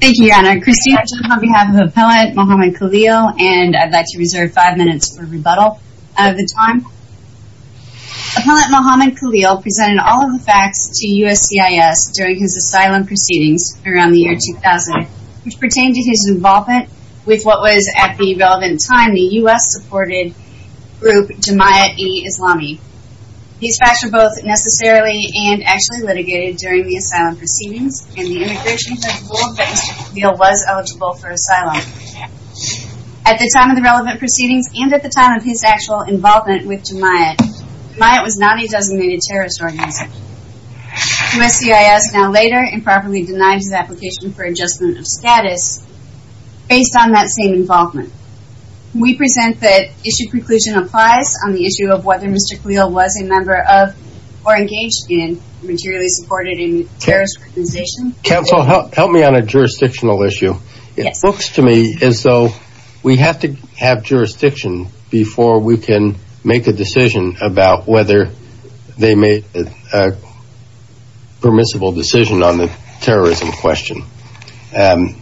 Thank you, Your Honor. Christine Arjun on behalf of Appellant Mohammad Khalil and I'd like to reserve five minutes for rebuttal of the time. Appellant Mohammad Khalil presented all of the facts to USCIS during his asylum proceedings around the year 2000, which pertained to his involvement with what was at the relevant time the U.S.-supported group Jamia-e-Islami. These facts were both necessarily and actually litigated during the asylum proceedings and the immigration judge ruled that Mr. Khalil was eligible for asylum. At the time of the relevant proceedings and at the time of his actual involvement with Jamia, Jamia was not a designated terrorist organization. USCIS now later improperly denied his application for adjustment of status based on that same involvement. We present that issue conclusion applies on the issue of whether Mr. Khalil was a member of or engaged in materially supported terrorist organization. Counsel, help me on a jurisdictional issue. Yes. It looks to me as though we have to have jurisdiction before we can make a decision about whether they made a permissible decision on the terrorism question. And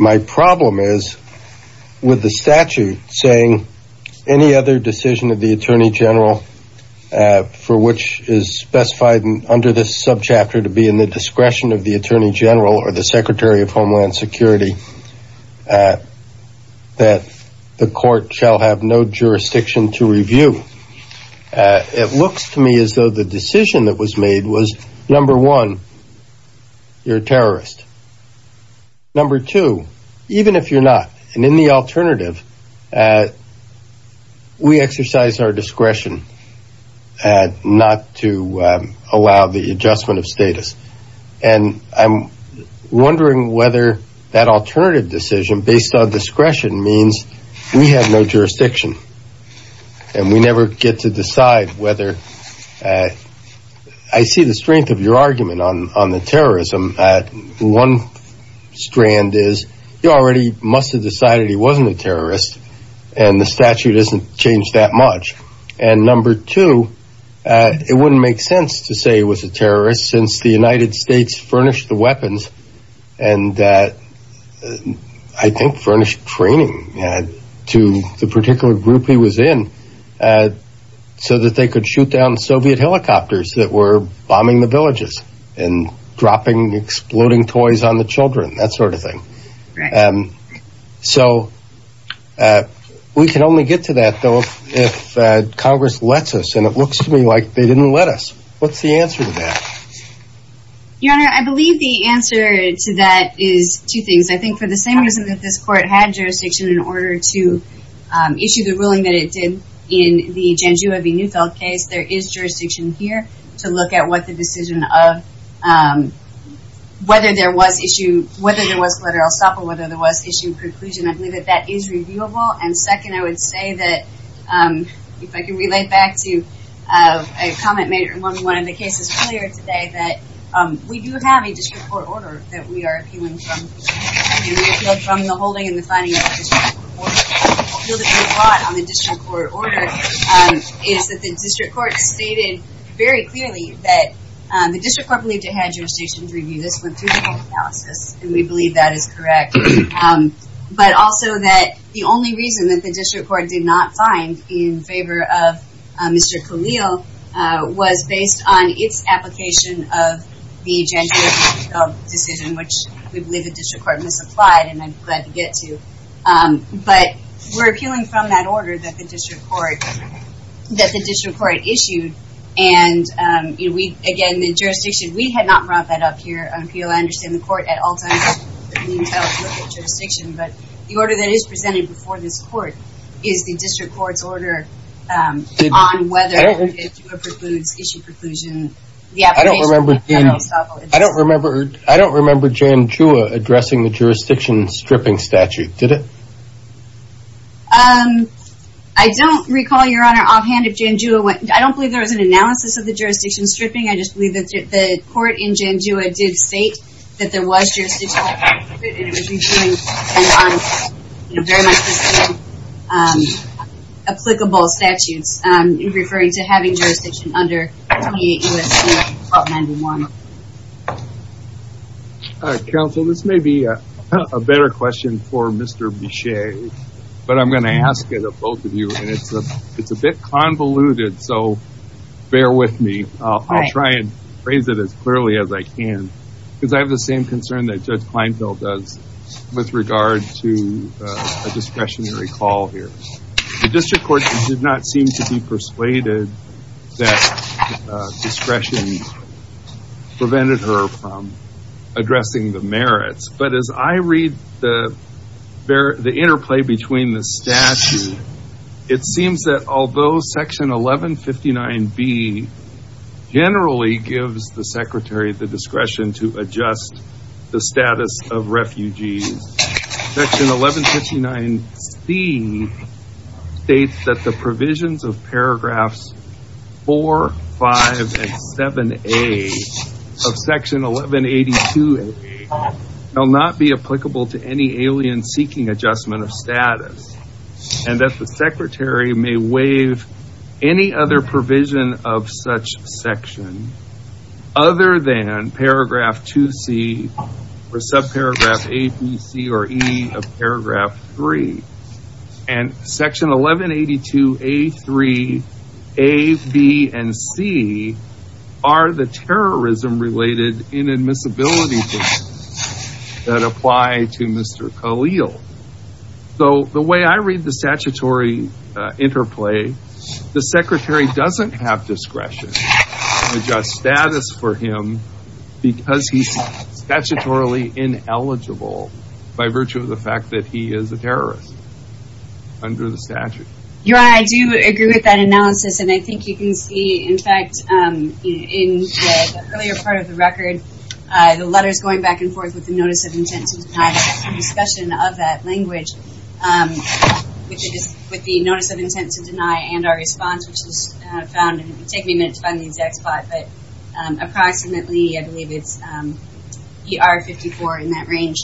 my problem is with the statute saying any other decision of the attorney general, for which is specified under this subchapter to be in the discretion of the attorney general or the secretary of Homeland Security, that the court shall have no jurisdiction to review. It looks to me as though the decision that was made was, number one, you're a terrorist. Number two, even if you're not, and in the alternative, we exercise our discretion not to allow the adjustment of status. And I'm wondering whether that alternative decision based on discretion means we have no jurisdiction and we never get to decide whether – I see the strength of your argument on the terrorism. One strand is you already must have decided he wasn't a terrorist and the statute hasn't changed that much. And number two, it wouldn't make sense to say he was a terrorist since the United States furnished the weapons and I think furnished training to the particular group he was in so that they could shoot down Soviet helicopters that were bombing the villages and dropping exploding toys on the children, that sort of thing. So we can only get to that, though, if Congress lets us. And it looks to me like they didn't let us. What's the answer to that? Your Honor, I believe the answer to that is two things. I think for the same reason that this Court had jurisdiction in order to issue the ruling that it did in the Janjua v. Neufeld case, there is jurisdiction here to look at what the decision of whether there was collateral stop or whether there was issue of preclusion. I believe that that is reviewable. And second, I would say that, if I can relate back to a comment made in one of the cases earlier today, that we do have a district court order that we are appealing from the holding and the finding of the district court order. The appeal that we brought on the district court order is that the district court stated very clearly that the district court believed it had jurisdiction to review. This went through the court analysis and we believe that is correct. But also that the only reason that the district court did not find in favor of Mr. Khalil was based on its application of the Janjua v. Neufeld decision, which we believe the district court misapplied and I'm glad to get to. But we're appealing from that order that the district court issued. And again, the jurisdiction, we had not brought that up here on appeal. I understand the court at all times that Neufeld looked at jurisdiction, but the order that is presented before this court is the district court's order on whether Janjua precludes issue of preclusion. I don't remember Janjua addressing the jurisdiction stripping statute, did it? I don't recall, Your Honor, offhand if Janjua went. I don't believe there was an analysis of the jurisdiction stripping. I just believe that the court in Janjua did state that there was jurisdiction and it was reviewed on very much the same applicable statutes in referring to having jurisdiction under 28 U.S.C. 1291. Counsel, this may be a better question for Mr. Bichet, but I'm going to ask it of both of you. And it's a bit convoluted, so bear with me. I'll try and phrase it as clearly as I can because I have the same concern that Judge Kleinfeld does with regard to a discretionary call here. The district court did not seem to be persuaded that discretion prevented her from addressing the merits. But as I read the interplay between the statute, it seems that although Section 1159B generally gives the secretary the discretion to adjust the status of refugees, Section 1159C states that the provisions of paragraphs 4, 5, and 7A of Section 1182A will not be applicable to any alien seeking adjustment of status. And that the secretary may waive any other provision of such section other than paragraph 2C or subparagraph A, B, C, or E of paragraph 3. And Section 1182A, 3, A, B, and C are the terrorism related inadmissibility provisions that apply to Mr. Khalil. So the way I read the statutory interplay, the secretary doesn't have discretion to adjust status for him because he's statutorily ineligible by virtue of the fact that he is a terrorist under the statute. Your Honor, I do agree with that analysis, and I think you can see, in fact, in the earlier part of the record, the letters going back and forth with the notice of intent to deny and discussion of that language, which is with the notice of intent to deny and our response, which is found, and it will take me a minute to find the exact spot, but approximately, I believe it's ER 54 in that range.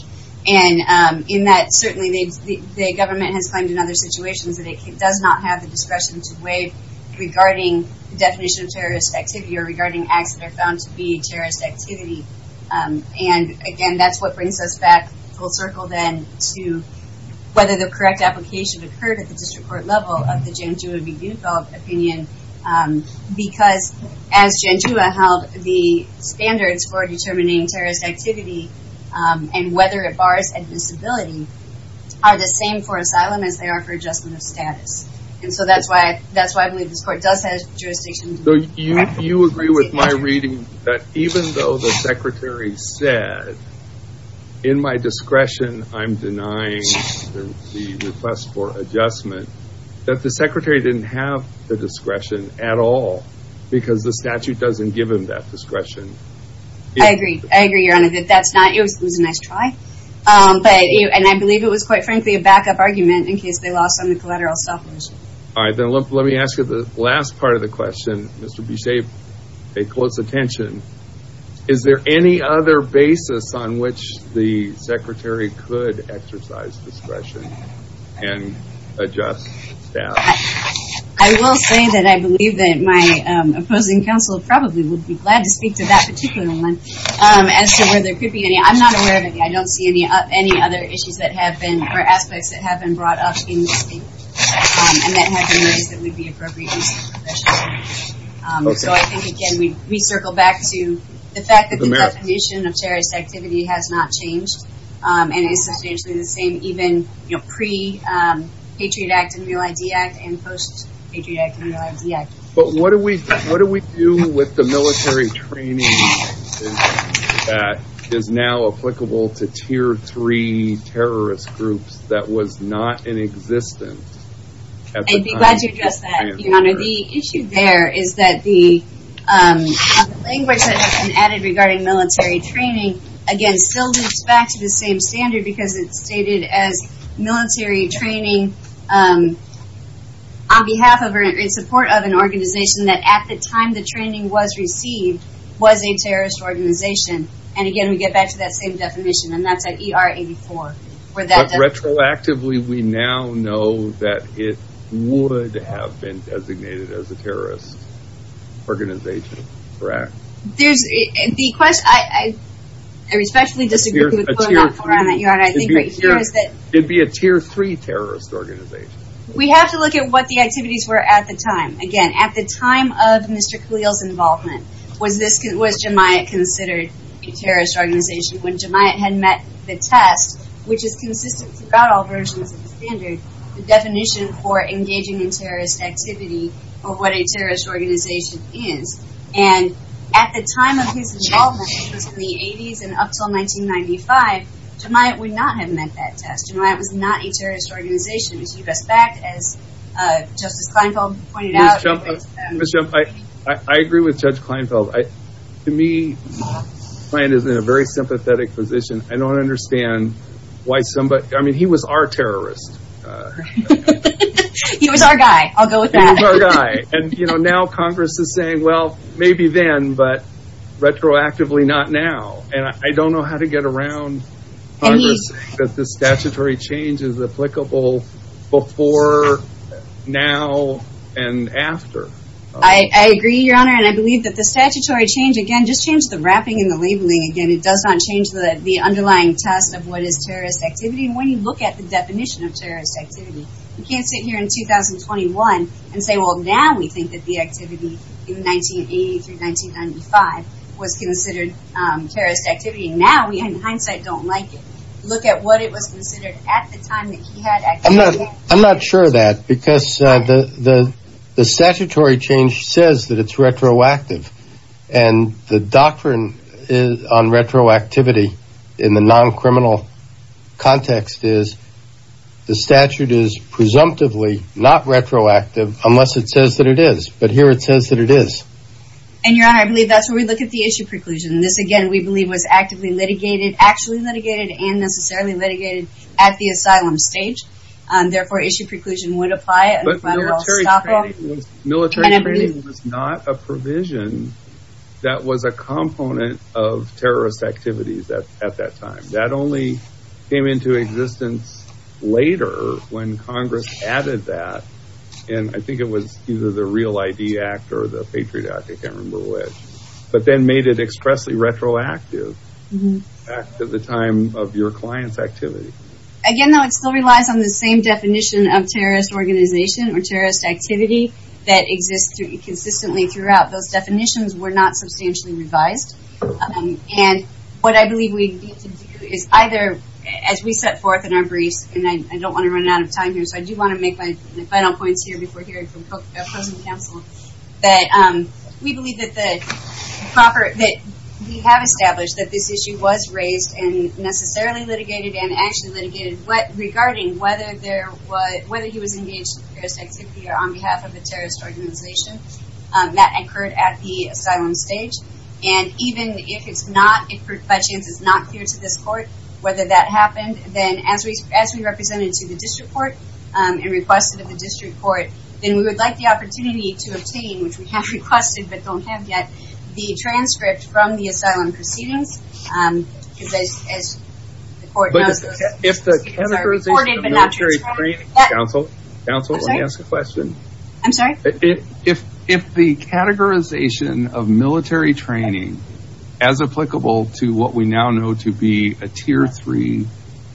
And in that, certainly, the government has claimed in other situations that it does not have the discretion to waive regarding the definition of terrorist activity or regarding acts that are found to be terrorist activity. And, again, that's what brings us back full circle, then, to whether the correct application occurred at the district court level of the Janjua v. Yugov opinion because, as Janjua held, the standards for determining terrorist activity and whether it bars admissibility are the same for asylum as they are for adjustment of status. And so that's why I believe this court does have jurisdiction. So you agree with my reading that even though the secretary said, in my discretion, I'm denying the request for adjustment, that the secretary didn't have the discretion at all because the statute doesn't give him that discretion? I agree. I agree, Your Honor, that that's not, it was a nice try, and I believe it was, quite frankly, a backup argument in case they lost on the collateral stuff. All right, then let me ask you the last part of the question, Mr. Bichet, pay close attention. Is there any other basis on which the secretary could exercise discretion and adjust staff? I will say that I believe that my opposing counsel probably would be glad to speak to that particular one. As to whether there could be any, I'm not aware of any, I don't see any other issues that have been, or aspects that have been brought up in this case, and that have been raised that would be appropriate in such a professional way. So I think, again, we circle back to the fact that the definition of terrorist activity has not changed, and is substantially the same even pre-Patriot Act and Real ID Act and post-Patriot Act and Real ID Act. But what do we do with the military training that is now applicable to Tier 3 terrorist groups that was not in existence at the time of the transfer? I'd be glad to address that, Your Honor. The issue there is that the language that has been added regarding military training, again, still lives back to the same standard because it's stated as military training on behalf of or in support of an organization that at the time the training was received was a terrorist organization. And again, we get back to that same definition, and that's at ER 84. Retroactively, we now know that it would have been designated as a terrorist organization, correct? There's, the question, I respectfully disagree with what you're putting out there, Your Honor. It'd be a Tier 3 terrorist organization. We have to look at what the activities were at the time. Again, at the time of Mr. Khalil's involvement, was this, was Jemaiat considered a terrorist organization when Jemaiat had met the test, which is consistent throughout all versions of the standard, the definition for engaging in terrorist activity or what a terrorist organization is. And at the time of his involvement, which was in the 80s and up until 1995, Jemaiat would not have met that test. Jemaiat was not a terrorist organization. As Justice Kleinfeld pointed out. Ms. Shump, I agree with Judge Kleinfeld. To me, Kleinfeld is in a very sympathetic position. I don't understand why somebody, I mean, he was our terrorist. He was our guy. I'll go with that. He was our guy. And, you know, now Congress is saying, well, maybe then, but retroactively, not now. And I don't know how to get around Congress saying that the statutory change is applicable before, now, and after. I agree, Your Honor. And I believe that the statutory change, again, just change the wrapping and the labeling again. It does not change the underlying test of what is terrorist activity. And when you look at the definition of terrorist activity, you can't sit here in 2021 and say, well, now we think that the activity in 1980 through 1995 was considered terrorist activity. And now we, in hindsight, don't like it. Look at what it was considered at the time that he had activity. I'm not sure of that. Because the statutory change says that it's retroactive. And the doctrine on retroactivity in the non-criminal context is the statute is presumptively not retroactive unless it says that it is. But here it says that it is. And, Your Honor, I believe that's where we look at the issue preclusion. This, again, we believe was actively litigated, actually litigated, and necessarily litigated at the asylum stage. Therefore, issue preclusion would apply. Military training was not a provision that was a component of terrorist activities at that time. That only came into existence later when Congress added that. And I think it was either the Real ID Act or the Patriot Act, I can't remember which. But then made it expressly retroactive at the time of your client's activity. Again, though, it still relies on the same definition of terrorist organization or terrorist activity that exists consistently throughout. Those definitions were not substantially revised. And what I believe we need to do is either, as we set forth in our briefs, and I don't want to run out of time here, so I do want to make my final points here before hearing from present counsel, that we believe that we have established that this issue was raised and necessarily litigated and actually litigated, regarding whether he was engaged in terrorist activity or on behalf of a terrorist organization. That occurred at the asylum stage. And even if it's not, if by chance it's not clear to this court whether that happened, then as we represented to the district court and requested of the district court, then we would like the opportunity to obtain, which we have requested but don't have yet, the transcript from the asylum proceedings. Because as the court knows, those proceedings are recorded but not transcribed. Counsel, counsel, let me ask a question. I'm sorry? If the categorization of military training as applicable to what we now know to be a tier three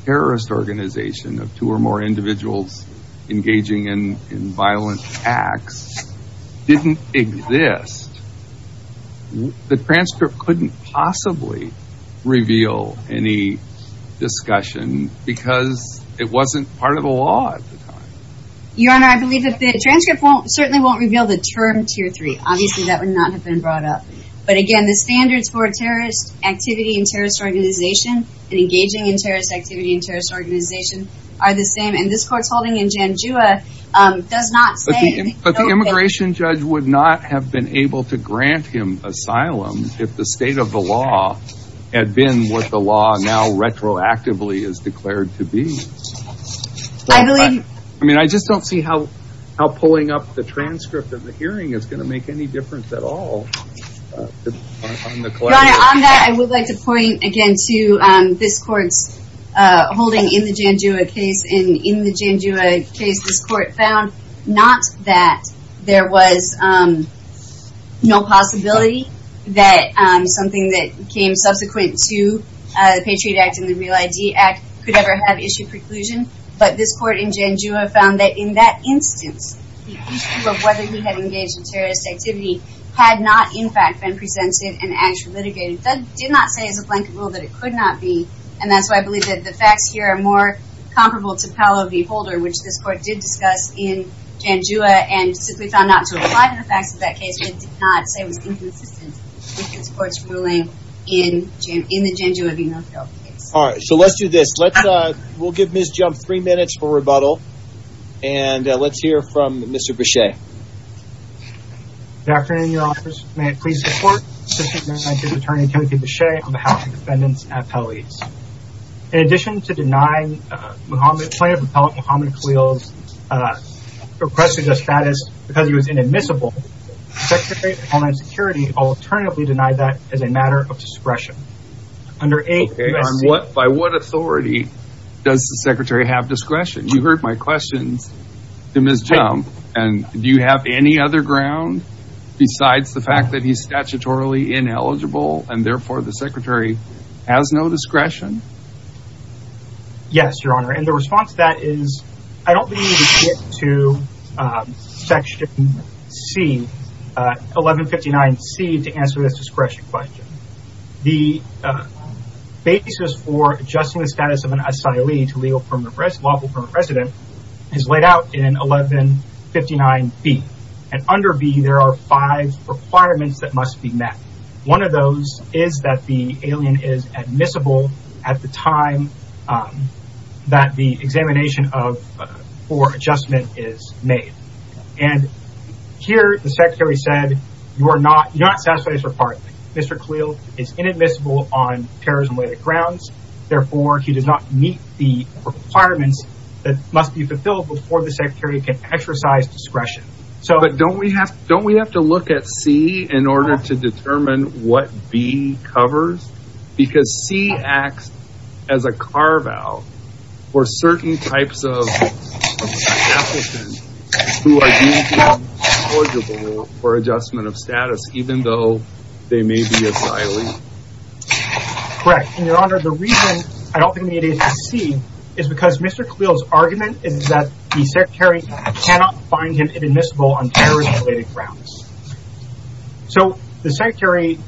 terrorist organization of two or more individuals engaging in violent acts didn't exist, the transcript couldn't possibly reveal any discussion because it wasn't part of the law at the time. Your Honor, I believe that the transcript certainly won't reveal the term tier three. Obviously, that would not have been brought up. But again, the standards for a terrorist activity and terrorist organization and engaging in terrorist activity and terrorist organization are the same. And this court's holding in Janjua does not say. But the immigration judge would not have been able to grant him asylum if the state of the law had been what the law now retroactively has declared to be. I believe. I mean, I just don't see how pulling up the transcript of the hearing is going to make any difference at all. Your Honor, on that, I would like to point again to this court's holding in the Janjua case. And in the Janjua case, this court found not that there was no possibility that something that came subsequent to the Patriot Act and the Real ID Act could ever have issued preclusion. But this court in Janjua found that in that instance, the issue of whether he had engaged in terrorist activity had not, in fact, been presented and actually litigated. That did not say as a blanket rule that it could not be. And that's why I believe that the facts here are more comparable to Paolo V. Holder, which this court did discuss in Janjua and simply found not to apply to the facts of that case but did not say was inconsistent with this court's ruling in the Janjua v. North Carolina case. All right. So let's do this. We'll give Ms. Jump three minutes for rebuttal. And let's hear from Mr. Bechet. Good afternoon, Your Honors. May it please the Court. Assistant Justice Attorney Timothy Bechet on behalf of the defendants and appellees. In addition to denying Plaintiff Appellant Muhammad Khalil's request to adjust status because he was inadmissible, the Secretary of Homeland Security alternatively denied that as a matter of discretion. Under 8 U.S.C. By what authority does the Secretary have discretion? You heard my questions to Ms. Jump. And do you have any other ground besides the fact that he's statutorily ineligible and therefore the Secretary has no discretion? Yes, Your Honor. And the response to that is I don't believe we get to Section C, 1159C, to answer this discretion question. The basis for adjusting the status of an asylee to lawful permanent residence is laid out in 1159B. And under B, there are five requirements that must be met. One of those is that the alien is admissible at the time that the examination for adjustment is made. And here the Secretary said you are not satisfied as a partner. Mr. Khalil is inadmissible on terrorism-related grounds. Therefore, he does not meet the requirements that must be fulfilled before the Secretary can exercise discretion. But don't we have to look at C in order to determine what B covers? Because C acts as a carve-out for certain types of applicants who are deemed ineligible for adjustment of status, even though they may be asylee. Correct. And, Your Honor, the reason I don't think we need to address C is because Mr. Khalil's argument is that the Secretary cannot find him inadmissible on terrorism-related grounds. So the Secretary,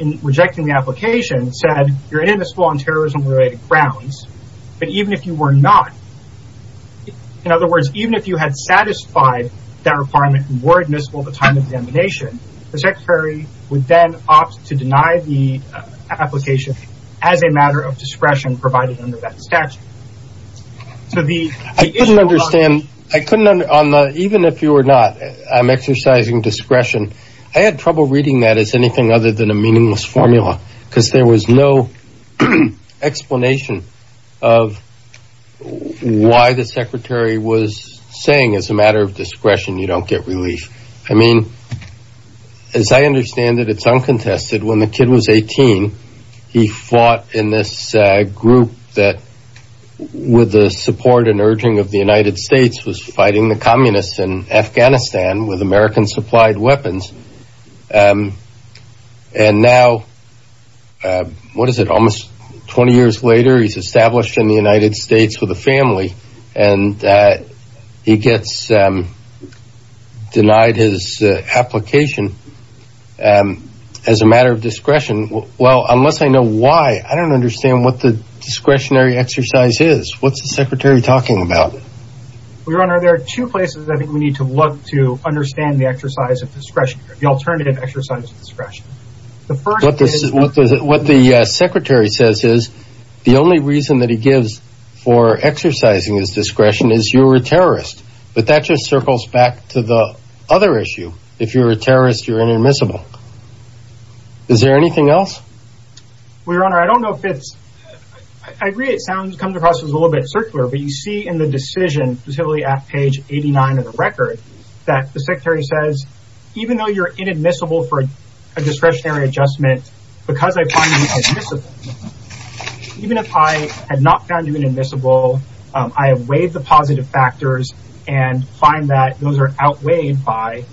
in rejecting the application, said you're inadmissible on terrorism-related grounds, but even if you were not, in other words, even if you had satisfied that requirement and were admissible at the time of the examination, the Secretary would then opt to deny the application as a matter of discretion provided under that statute. I couldn't understand. Even if you were not, I'm exercising discretion. I had trouble reading that as anything other than a meaningless formula because there was no explanation of why the Secretary was saying as a matter of discretion you don't get relief. I mean, as I understand it, it's uncontested. When the kid was 18, he fought in this group that, with the support and urging of the United States, was fighting the communists in Afghanistan with American-supplied weapons. And now, what is it, almost 20 years later, he's established in the United States with a family, and he gets denied his application as a matter of discretion. Well, unless I know why, I don't understand what the discretionary exercise is. What's the Secretary talking about? Your Honor, there are two places I think we need to look to understand the exercise of discretion, the alternative exercise of discretion. What the Secretary says is the only reason that he gives for exercising his discretion is you're a terrorist, but that just circles back to the other issue. If you're a terrorist, you're inadmissible. Is there anything else? Well, Your Honor, I don't know if it's – I agree it comes across as a little bit circular, but you see in the decision specifically at page 89 of the record that the Secretary says, even though you're inadmissible for a discretionary adjustment, because I find you inadmissible, even if I had not found you inadmissible, I have weighed the positive factors and find that those are outweighed by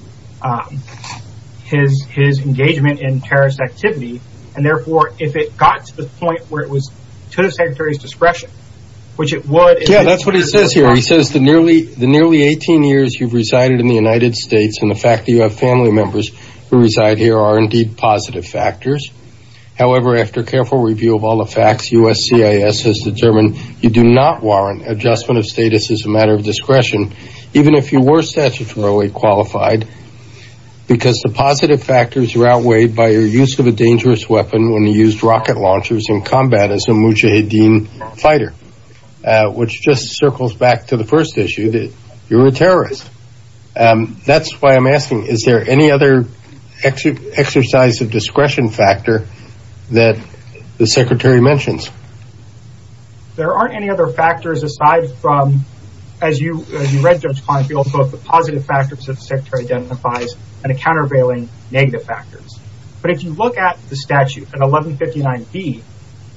his engagement in terrorist activity, and therefore if it got to the point where it was to the Secretary's discretion, which it would. Yeah, that's what he says here. He says the nearly 18 years you've resided in the United States and the fact that you have family members who reside here are indeed positive factors. However, after careful review of all the facts, USCIS has determined you do not warrant adjustment of status as a matter of discretion, even if you were statutorily qualified, because the positive factors are outweighed by your use of a dangerous weapon when you used rocket launchers in combat as a mujahideen fighter, which just circles back to the first issue that you're a terrorist. That's why I'm asking, is there any other exercise of discretion factor that the Secretary mentions? There aren't any other factors aside from, as you read Judge Kleinfield's book, the positive factors that the Secretary identifies and the countervailing negative factors. But if you look at the statute at 1159B,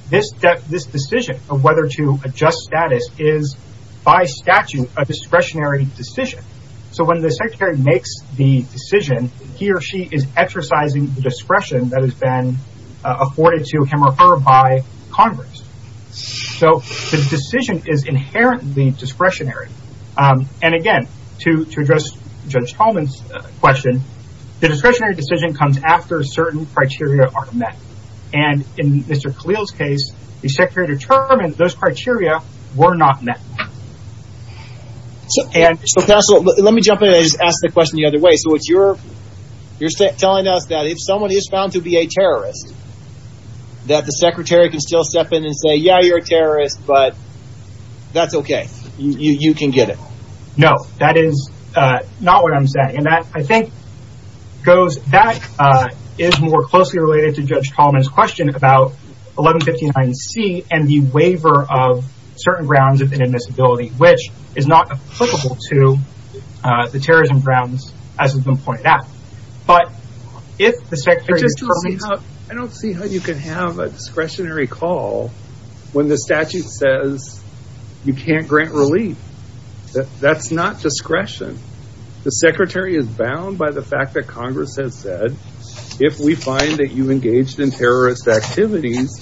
this decision of whether to adjust status is by statute a discretionary decision. So when the Secretary makes the decision, he or she is exercising the discretion that has been afforded to him or her by Congress. So the decision is inherently discretionary. And again, to address Judge Tolman's question, the discretionary decision comes after certain criteria are met. And in Mr. Khalil's case, the Secretary determined those criteria were not met. Let me jump in and ask the question the other way. So you're telling us that if someone is found to be a terrorist, that the Secretary can still step in and say, yeah, you're a terrorist, but that's okay. You can get it. No, that is not what I'm saying. And that, I think, is more closely related to Judge Tolman's question about 1159C and the waiver of certain grounds of inadmissibility, which is not applicable to the terrorism grounds as has been pointed out. But if the Secretary— I just don't see how you can have a discretionary call when the statute says you can't grant relief. That's not discretion. The Secretary is bound by the fact that Congress has said, if we find that you engaged in terrorist activities,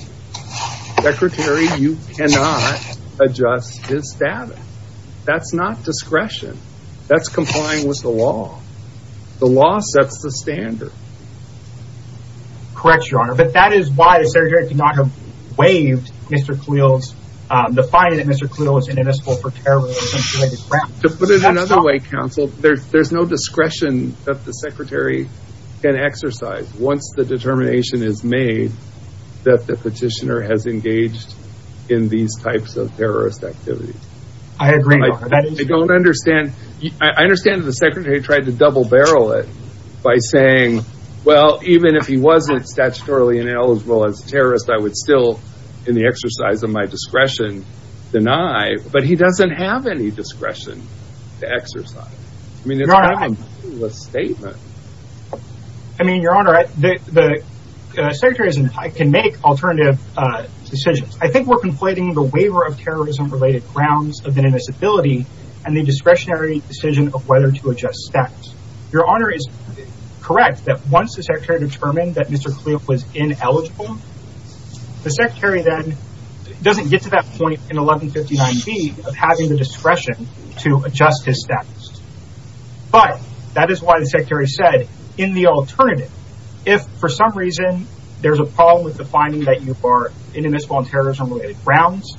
Secretary, you cannot adjust his status. That's not discretion. That's complying with the law. The law sets the standard. Correct, Your Honor. But that is why the Secretary could not have waived Mr. Cleo's— the finding that Mr. Cleo was inadmissible for terrorism. To put it another way, Counsel, there's no discretion that the Secretary can exercise once the determination is made that the petitioner has engaged in these types of terrorist activities. I agree, Your Honor. I don't understand. I understand that the Secretary tried to double-barrel it by saying, well, even if he wasn't statutorily ineligible as a terrorist, I would still, in the exercise of my discretion, deny. But he doesn't have any discretion to exercise. I mean, it's kind of a meaningless statement. I mean, Your Honor, the Secretary can make alternative decisions. I think we're conflating the waiver of terrorism-related grounds of inadmissibility and the discretionary decision of whether to adjust status. Your Honor is correct that once the Secretary determined that Mr. Cleo was ineligible, the Secretary then doesn't get to that point in 1159B of having the discretion to adjust his status. But that is why the Secretary said, in the alternative, if for some reason there's a problem with the finding that you are inadmissible on terrorism-related grounds,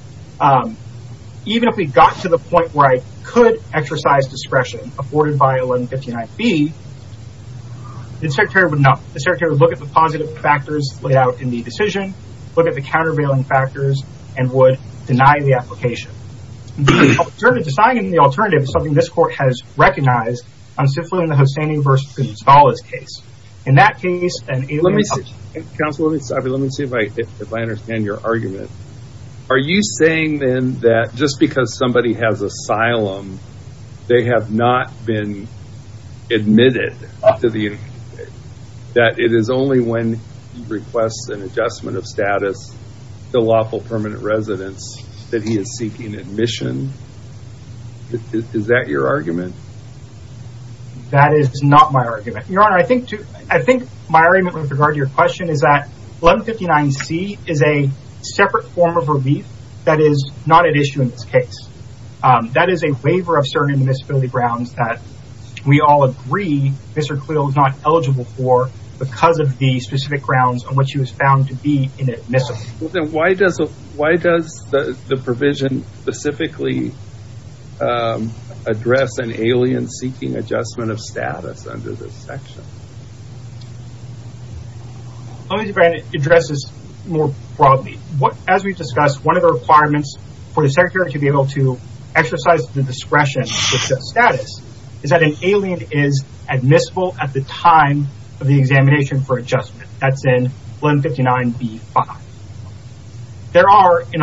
even if we got to the point where I could exercise discretion afforded by 1159B, the Secretary would look at the positive factors laid out in the decision, look at the countervailing factors, and would deny the application. The alternative, deciding on the alternative, is something this Court has recognized on Ciflu and the Hosseini v. Gonzales case. In that case, and in other cases— Counsel, let me see if I understand your argument. Are you saying then that just because somebody has asylum, they have not been admitted to the— that it is only when he requests an adjustment of status to lawful permanent residence that he is seeking admission? Is that your argument? That is not my argument. Your Honor, I think my argument with regard to your question is that 1159C is a separate form of relief that is not at issue in this case. That is a waiver of certain admissibility grounds that we all agree Mr. Cleo is not eligible for because of the specific grounds on which he was found to be inadmissible. Then why does the provision specifically address an alien seeking adjustment of status under this section? Let me see if I can address this more broadly. As we discussed, one of the requirements for the Secretary to be able to exercise the discretion to adjust status is that an alien is admissible at the time of the examination for adjustment. That is in 1159B-5. There are in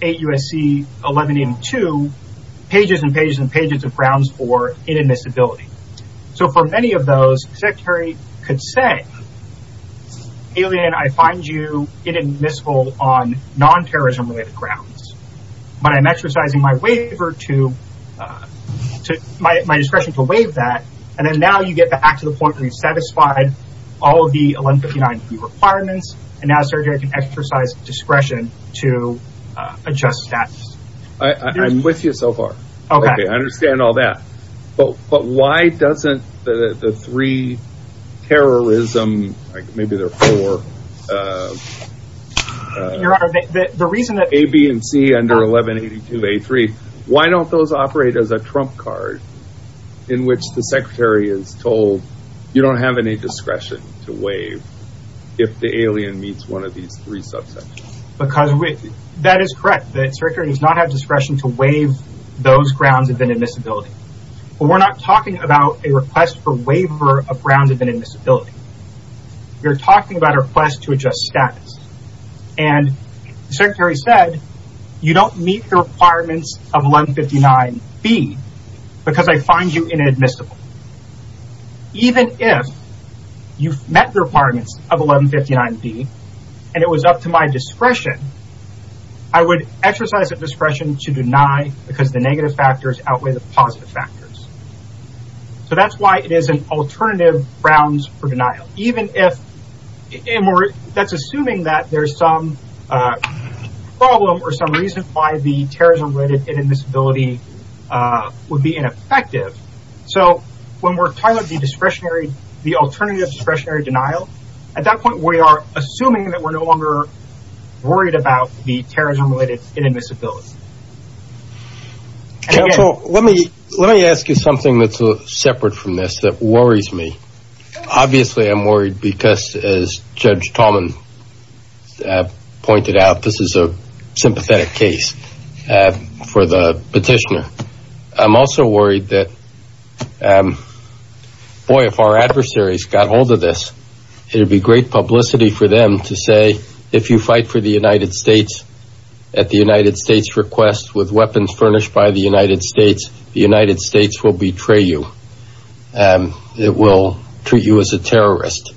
8 U.S.C. 1182 pages and pages and pages of grounds for inadmissibility. For many of those, the Secretary could say, alien, I find you inadmissible on non-terrorism grounds, but I am exercising my discretion to waive that. Now you get back to the point where you have satisfied all of the 1159B requirements and now the Secretary can exercise discretion to adjust status. I am with you so far. I understand all that. But why doesn't the three terrorism, maybe there are four, A, B, and C under 1182A3, why don't those operate as a trump card in which the Secretary is told, you don't have any discretion to waive if the alien meets one of these three subsections? That is correct. The Secretary does not have discretion to waive those grounds of inadmissibility. But we are not talking about a request for waiver of grounds of inadmissibility. We are talking about a request to adjust status. And the Secretary said, you don't meet the requirements of 1159B because I find you inadmissible. Even if you met the requirements of 1159B and it was up to my discretion, I would exercise that discretion to deny because the negative factors outweigh the positive factors. So that is why it is an alternative grounds for denial. Even if, that is assuming that there is some problem or some reason why the terrorism-related inadmissibility would be ineffective. So when we are talking about the alternative discretionary denial, at that point we are assuming that we are no longer worried about the terrorism-related inadmissibility. Counsel, let me ask you something that is separate from this that worries me. Obviously I am worried because, as Judge Tallman pointed out, this is a sympathetic case for the petitioner. I am also worried that, boy, if our adversaries got hold of this, it would be great publicity for them to say, if you fight for the United States at the United States' request with weapons furnished by the United States, the United States will betray you. It will treat you as a terrorist.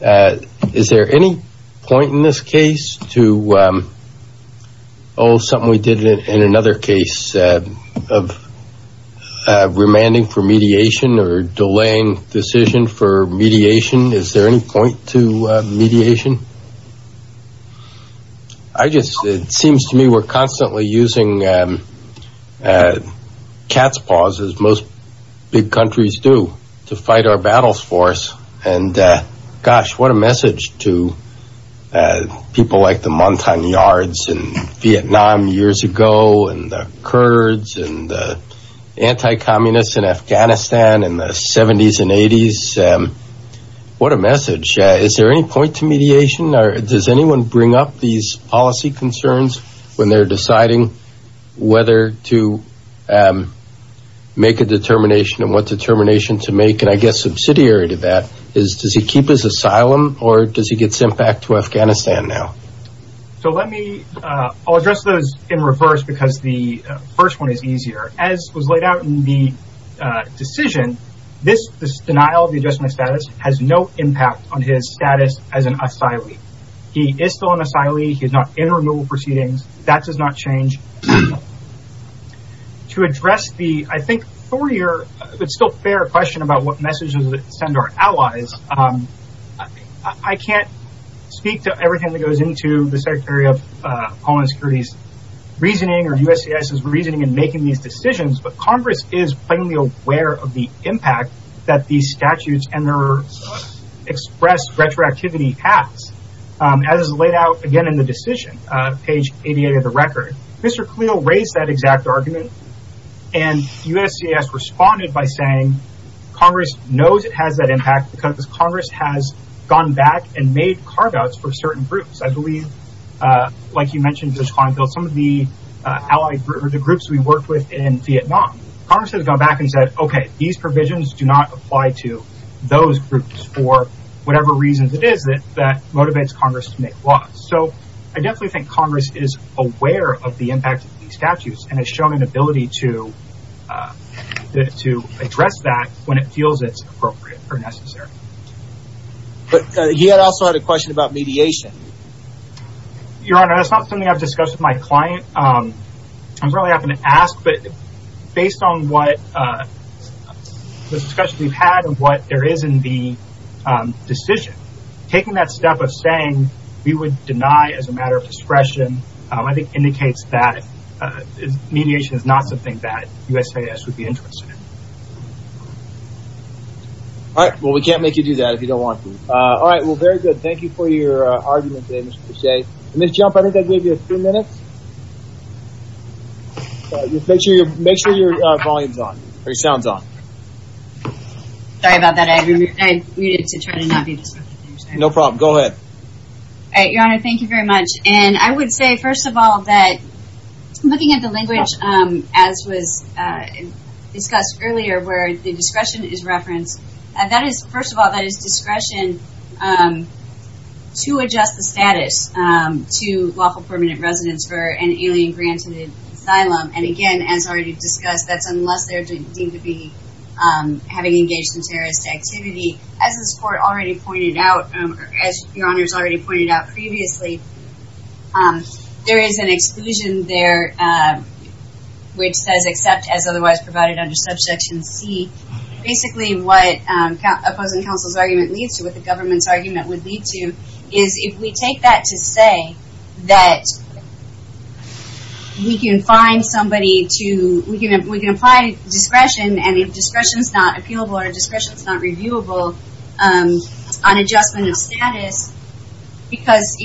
Is there any point in this case to something we did in another case of remanding for mediation or delaying decision for mediation? Is there any point to mediation? It seems to me we are constantly using cat's paws, as most big countries do, to fight our battles for us. Gosh, what a message to people like the Montagnards in Vietnam years ago and the Kurds and the anti-communists in Afghanistan in the 70s and 80s. What a message. Is there any point to mediation? Does anyone bring up these policy concerns when they are deciding whether to make a determination and what determination to make, and I guess subsidiary to that, is does he keep his asylum or does he get sent back to Afghanistan now? I will address those in reverse because the first one is easier. As was laid out in the decision, this denial of the adjustment status has no impact on his status as an asylee. He is still an asylee. He is not in removal proceedings. That does not change. To address the, I think, thorier but still fair question about what message to send to our allies, I can't speak to everything that goes into the Secretary of Homeland Security's reasoning or USCIS's reasoning in making these decisions, but Congress is plainly aware of the impact that these statutes and their expressed retroactivity has. As is laid out, again, in the decision, page 88 of the record, Mr. Kaleel raised that exact argument and USCIS responded by saying Congress knows it has that impact because Congress has gone back and made carve-outs for certain groups. I believe, like you mentioned, Judge Kleinfeld, some of the groups we worked with in Vietnam. Congress has gone back and said, okay, these provisions do not apply to those groups for whatever reasons it is that motivates Congress to make laws. So I definitely think Congress is aware of the impact of these statutes and has shown an ability to address that when it feels it's appropriate or necessary. But he also had a question about mediation. Your Honor, that's not something I've discussed with my client. I'm not going to ask, but based on what discussion we've had and what there is in the decision, taking that step of saying we would deny as a matter of discretion, I think indicates that mediation is not something that USCIS would be interested in. All right, well, we can't make you do that if you don't want to. All right, well, very good. Thank you for your argument today, Mr. Pache. Ms. Jump, I think I gave you a few minutes. Make sure your volume is on, or your sound is on. Sorry about that. I muted to try to not be disruptive. No problem. Go ahead. All right, Your Honor, thank you very much. And I would say, first of all, that looking at the language, as was discussed earlier where the discretion is referenced, that is, first of all, that is discretion to adjust the status to lawful permanent residence for an alien-granted asylum. And, again, as already discussed, that's unless they're deemed to be having engaged in terrorist activity. As this Court already pointed out, or as Your Honor has already pointed out previously, there is an exclusion there which says, except as otherwise provided under Subsection C. Basically, what opposing counsel's argument leads to, what the government's argument would lead to, is if we take that to say that we can find somebody to, we can apply discretion, and if discretion is not appealable or discretion is not reviewable on adjustment of status, because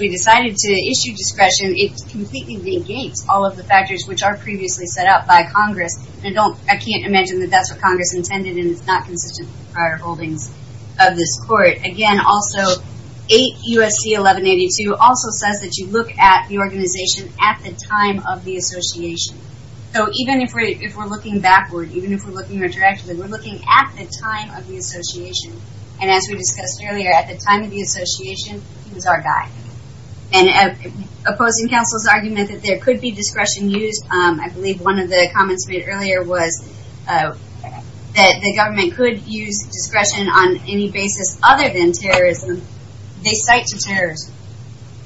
we decided to issue discretion, it completely negates all of the factors which are previously set up by Congress. I can't imagine that that's what Congress intended and it's not consistent with the prior holdings of this Court. Again, also, 8 U.S.C. 1182 also says that you look at the organization at the time of the association. So even if we're looking backward, even if we're looking retroactively, we're looking at the time of the association. And as we discussed earlier, at the time of the association, he was our guy. And opposing counsel's argument that there could be discretion used, I believe one of the comments made earlier was that the government could use discretion on any basis other than terrorism. They cite to terrorists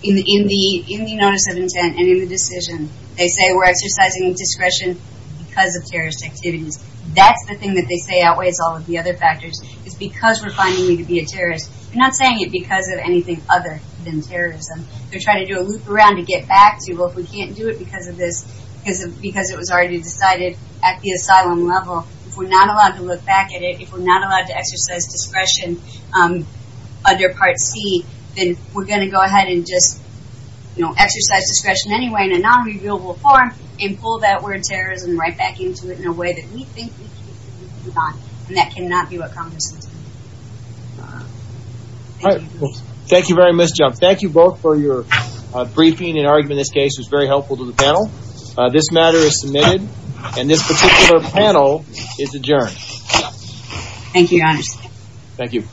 in the notice of intent and in the decision. They say we're exercising discretion because of terrorist activities. That's the thing that they say outweighs all of the other factors, is because we're finding we could be a terrorist. They're not saying it because of anything other than terrorism. They're trying to do a loop around to get back to, well, if we can't do it because of this, because it was already decided at the asylum level, if we're not allowed to look back at it, if we're not allowed to exercise discretion under Part C, then we're going to go ahead and just, you know, exercise discretion anyway in a non-revealable form and pull that word terrorism right back into it in a way that we think we can do it or not. And that cannot be what Congress is going to do. All right. Thank you very much, Jeff. Thank you both for your briefing and argument in this case. It was very helpful to the panel. This matter is submitted, and this particular panel is adjourned. Thank you, Your Honor. Thank you.